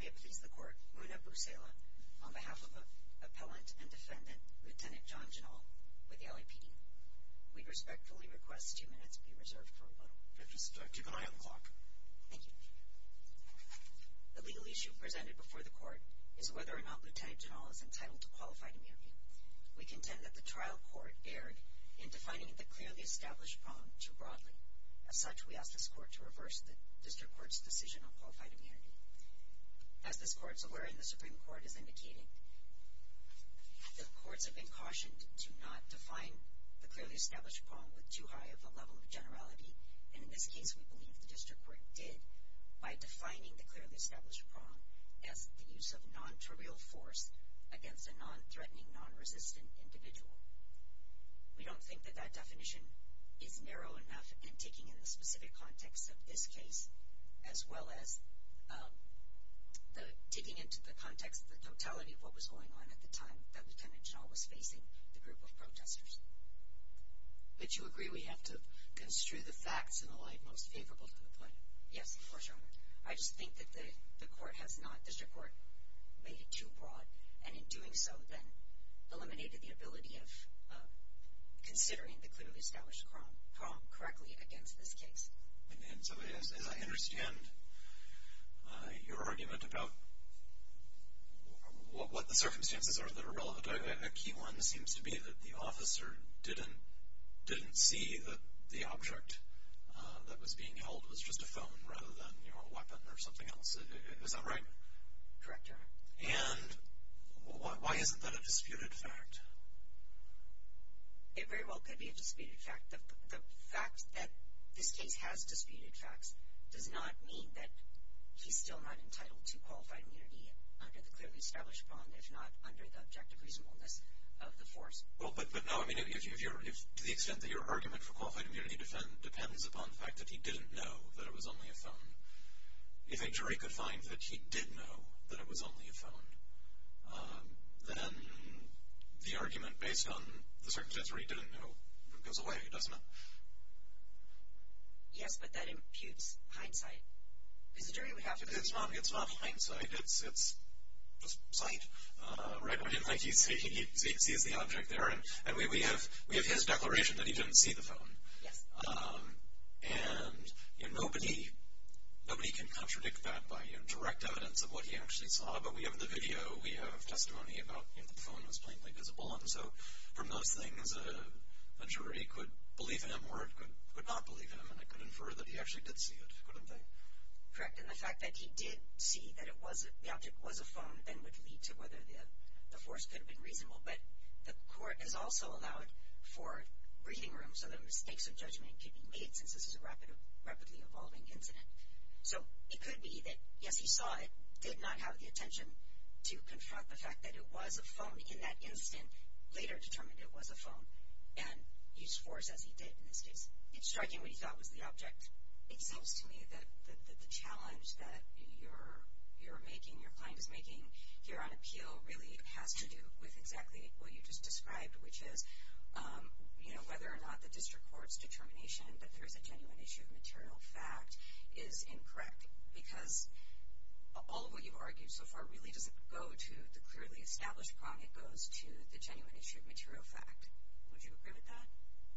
May it please the Court, Muna Busela, on behalf of the Appellant and Defendant, Lt. John Jenal, with the LAPD, we respectfully request two minutes be reserved for rebuttal. Mr. Director, can I have the clock? Thank you. The legal issue presented before the Court is whether or not Lt. Jenal is entitled to qualify to reappear. We contend that the trial court erred in defining the clearly established prong too broadly. As such, we ask this Court to reverse the District Court's decision on qualified immunity. As this Court is aware, and the Supreme Court is indicating, the Courts have been cautioned to not define the clearly established prong with too high of a level of generality, and in this case we believe the District Court did by defining the clearly established prong as the use of non-trivial force against a non-threatening, non-resistant individual. We don't think that that definition is narrow enough in taking in the specific context of this case, as well as taking into the context of the totality of what was going on at the time that Lt. Jenal was facing the group of protesters. But you agree we have to construe the facts in a light most favorable to the point? Yes, of course, Your Honor. I just think that the Court has not, the District Court, made it too broad, and in doing so then eliminated the ability of considering the clearly established prong correctly against this case. And so as I understand your argument about what the circumstances are that are relevant, a key one seems to be that the officer didn't see that the object that was being held was just a phone rather than, you know, a weapon or something else. Is that right? Correct, Your Honor. And why isn't that a disputed fact? It very well could be a disputed fact. The fact that this case has disputed facts does not mean that he's still not entitled to qualified immunity under the clearly established prong, if not under the objective reasonableness of the force. Well, but no, I mean, to the extent that your argument for qualified immunity depends upon the fact that he didn't know that it was only a phone, if a jury could find that he did know that it was only a phone, then the argument based on the circumstances where he didn't know goes away, doesn't it? Yes, but that imputes hindsight. Because the jury would have to... It's not hindsight. It's just sight. Right? He sees the object there, and we have his declaration that he didn't see the phone. Yes. And nobody can contradict that by direct evidence of what he actually saw. But we have the video. We have testimony about the phone was plainly visible. And so from those things, a jury could believe him or it could not believe him. And it could infer that he actually did see it, couldn't they? Correct, and the fact that he did see that the object was a phone then would lead to whether the force could have been reasonable. But the court has also allowed for breathing room so that mistakes of judgment could be made since this is a rapidly evolving incident. So it could be that, yes, he saw it, did not have the attention to confront the fact that it was a phone in that instant, later determined it was a phone, and used force as he did in this case. It's striking what he thought was the object. It seems to me that the challenge that you're making, your client is making here on appeal really has to do with exactly what you just described, which is whether or not the district court's determination that there is a genuine issue of material fact is incorrect. Because all of what you've argued so far really doesn't go to the clearly established problem. It goes to the genuine issue of material fact. Would you agree with that?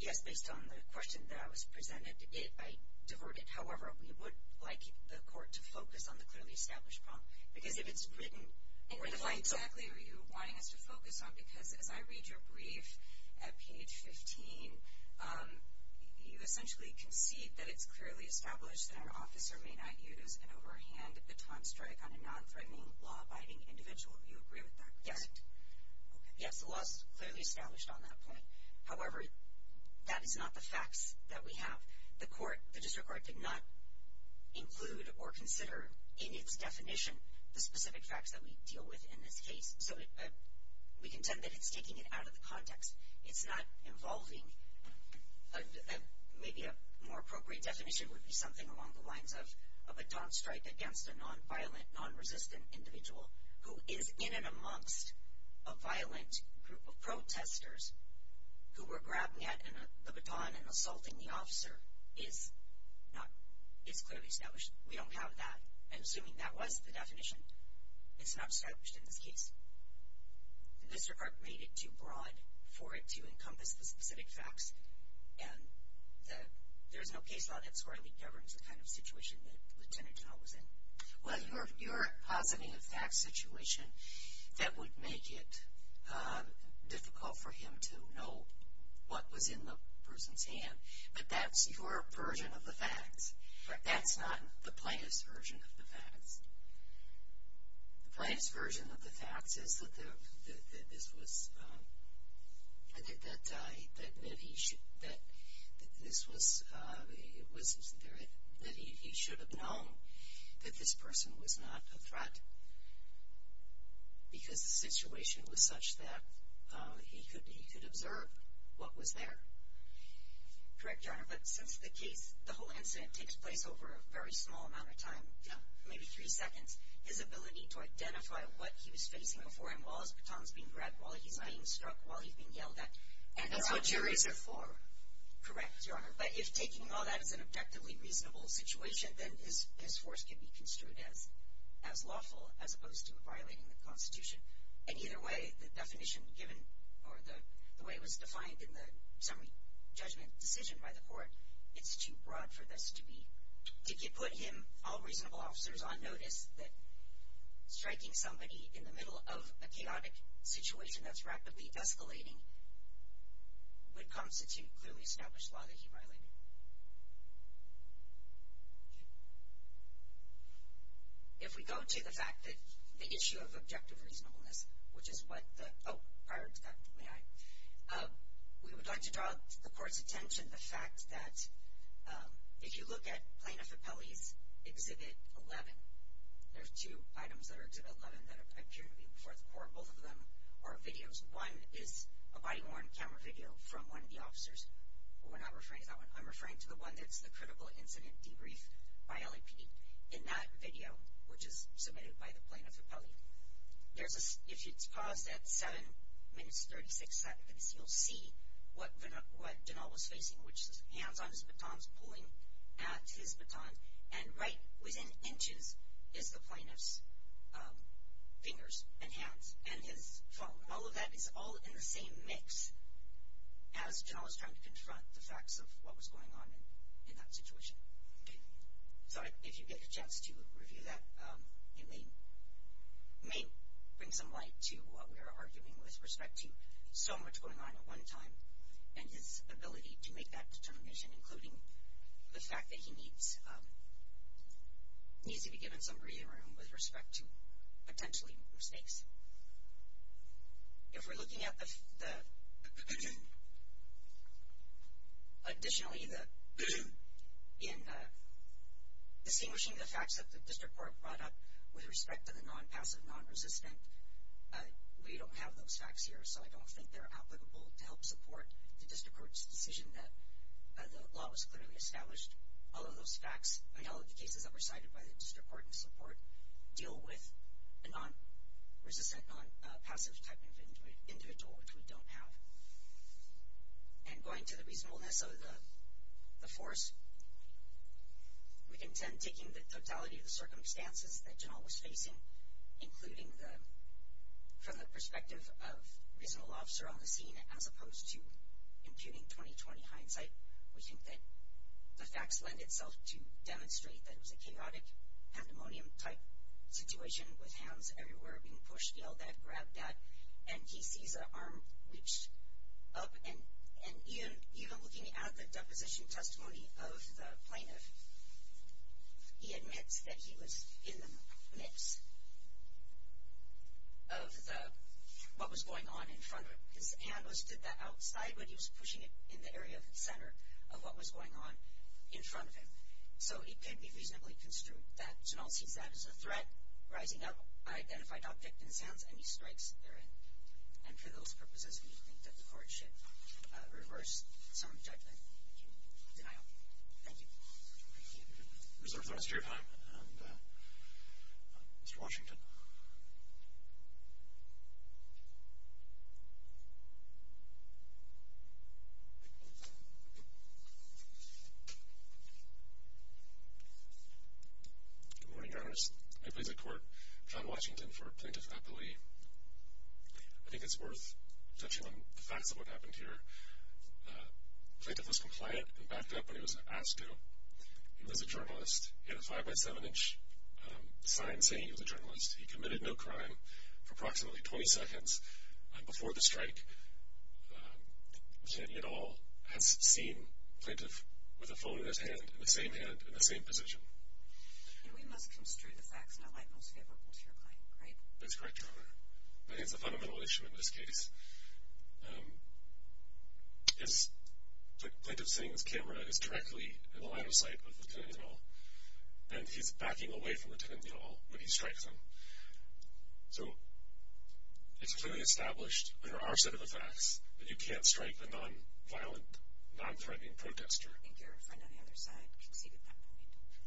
Yes, based on the question that was presented, I divert it. However, we would like the court to focus on the clearly established problem. Because if it's written or defined... Exactly what you're wanting us to focus on, because as I read your brief at page 15, you essentially concede that it's clearly established that an officer may not use an overhand baton strike on a non-threatening, law-abiding individual. Do you agree with that? Yes. Yes, the law is clearly established on that point. However, that is not the facts that we have. The court, the district court, did not include or consider in its definition the specific facts that we deal with in this case. So we contend that it's taking it out of the context. It's not involving... Maybe a more appropriate definition would be something along the lines of a baton strike against a non-violent, non-resistant individual who is in and amongst a violent group of protesters who were grabbing at the baton and assaulting the officer. It's clearly established. We don't have that. And assuming that was the definition, it's not established in this case. The district court made it too broad for it to encompass the specific facts. And there's no case law that squarely governs the kind of situation that Lieutenant General was in. Well, you're positing a fact situation that would make it difficult for him to know what was in the person's hand. But that's your version of the facts. That's not the plaintiff's version of the facts. The plaintiff's version of the facts is that he should have known that this person was not a threat because the situation was such that he could observe what was there. Correct, Your Honor. But since the case, the whole incident takes place over a very small amount of time, maybe three seconds, his ability to identify what he was facing before him while his baton was being grabbed, while he's being struck, while he's being yelled at. And that's what juries are for. Correct, Your Honor. But if taking all that as an objectively reasonable situation, then his force can be construed as lawful as opposed to violating the Constitution. And either way, the definition given or the way it was defined in the summary judgment decision by the court, it's too broad for this to be. If you put him, all reasonable officers on notice, that striking somebody in the middle of a chaotic situation that's rapidly escalating would constitute clearly established law that he violated. If we go to the fact that the issue of objective reasonableness, which is what the – oh, prior to that, may I? We would like to draw the court's attention to the fact that if you look at Plaintiff Appellee's Exhibit 11, there are two items that are Exhibit 11 that appear to be before the court. Both of them are videos. One is a body-worn camera video from one of the officers. We're not referring to that one. I'm referring to the one that's the critical incident debrief by LAPD. In that video, which is submitted by the Plaintiff Appellee, if it's paused at 7 minutes 36 seconds, you'll see what Janal was facing, which is hands on his batons, pulling at his batons, and right within inches is the plaintiff's fingers and hands and his phone. All of that is all in the same mix as Janal is trying to confront the facts of what was going on in that situation. So if you get a chance to review that, it may bring some light to what we were arguing with respect to so much going on at one time and his ability to make that determination, including the fact that he needs to be given some breathing room with respect to potentially mistakes. Additionally, in distinguishing the facts that the district court brought up with respect to the non-passive, non-resistant, we don't have those facts here, so I don't think they're applicable to help support the district court's decision that the law was clearly established. All of those facts, I mean all of the cases that were cited by the district court in support, deal with a non-resistant, non-passive type of individual, which we don't have. And going to the reasonableness of the force, we contend taking the totality of the circumstances that Janal was facing, including from the perspective of a reasonable officer on the scene, as opposed to imputing 20-20 hindsight, we think that the facts lend itself to demonstrate that it was a chaotic pandemonium type situation with hands everywhere being pushed, yelled at, grabbed at, and he sees an arm reached up, and even looking at the deposition testimony of the plaintiff, he admits that he was in the midst of what was going on in front of him. His hand was to the outside, but he was pushing it in the area of the center of what was going on in front of him. So it can be reasonably construed that Janal sees that as a threat, rising up, identified object in his hands, and he strikes therein. And for those purposes, we think that the court should reverse some judgment. Thank you. Thank you. We reserve the rest of your time. Mr. Washington. Good morning, Your Honor. May it please the Court, John Washington for Plaintiff at the Lee. I think it's worth touching on the facts of what happened here. Plaintiff was compliant and backed up when he was asked to. He was a journalist. He had a 5-by-7-inch sign saying he was a journalist. He committed no crime for approximately 20 seconds before the strike. Kennedy et al. has seen Plaintiff with a phone in his hand, in the same hand, in the same position. And we must construe the facts in a light most favorable to your client, right? That's correct, Your Honor. I think it's a fundamental issue in this case. Plaintiff, seeing this camera, is directly in the line of sight of Lieutenant et al., and he's backing away from Lieutenant et al. when he strikes him. So it's clearly established under our set of the facts that you can't strike a non-violent, non-threatening protester. And your friend on the other side conceded that point.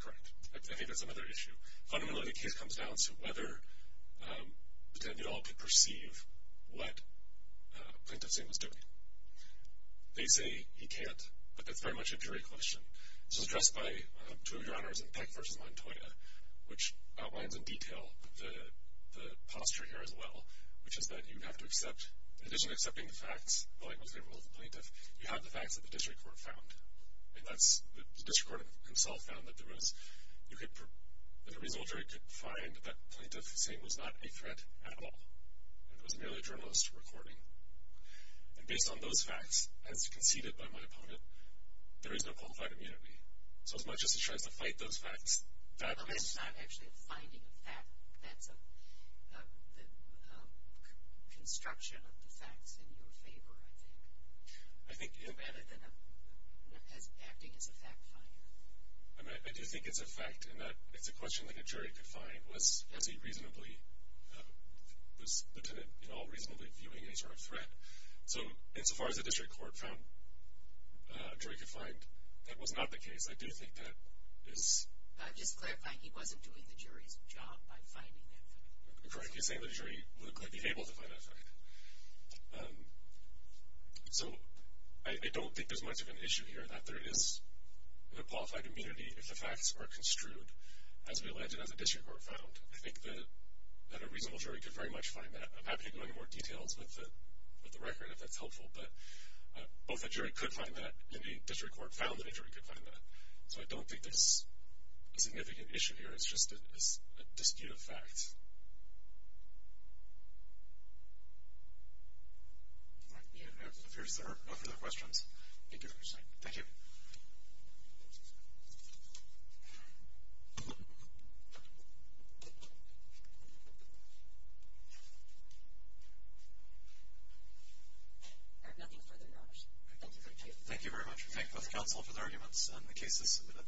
Correct. I think that's another issue. Fundamentally, the case comes down to whether Lieutenant et al. could perceive what Plaintiff's name was doing. They say he can't, but that's very much a jury question. This was addressed by two of Your Honors in Peck v. Montoya, which outlines in detail the posture here as well, which is that you have to accept, in addition to accepting the facts in the light most favorable to the plaintiff, you have the facts that the district court found. The district court himself found that there was, that a reasonable jury could find that Plaintiff's name was not a threat at all, and it was merely a journalist recording. And based on those facts, as conceded by my opponent, there is no qualified immunity. So as much as he tries to fight those facts, that's... Well, that's not actually a finding of fact. That's a construction of the facts in your favor, I think. Rather than acting as a fact finder. I do think it's a fact, and it's a question that a jury could find, was Lieutenant et al. reasonably viewing any sort of threat. So as far as the district court found a jury could find, that was not the case. I do think that is... I'm just clarifying he wasn't doing the jury's job by finding that fact. I'm correctly saying the jury would be able to find that fact. So I don't think there's much of an issue here that there is a qualified immunity if the facts are construed as we allege and as the district court found. I think that a reasonable jury could very much find that. I'm happy to go into more details with the record if that's helpful, but both the jury could find that, and the district court found that a jury could find that. So I don't think there's a significant issue here. It's just a dispute of facts. If there are no further questions, thank you for your time. Thank you. I have nothing further to add. Thank you very much. We thank both counsel for the arguments and the cases submitted.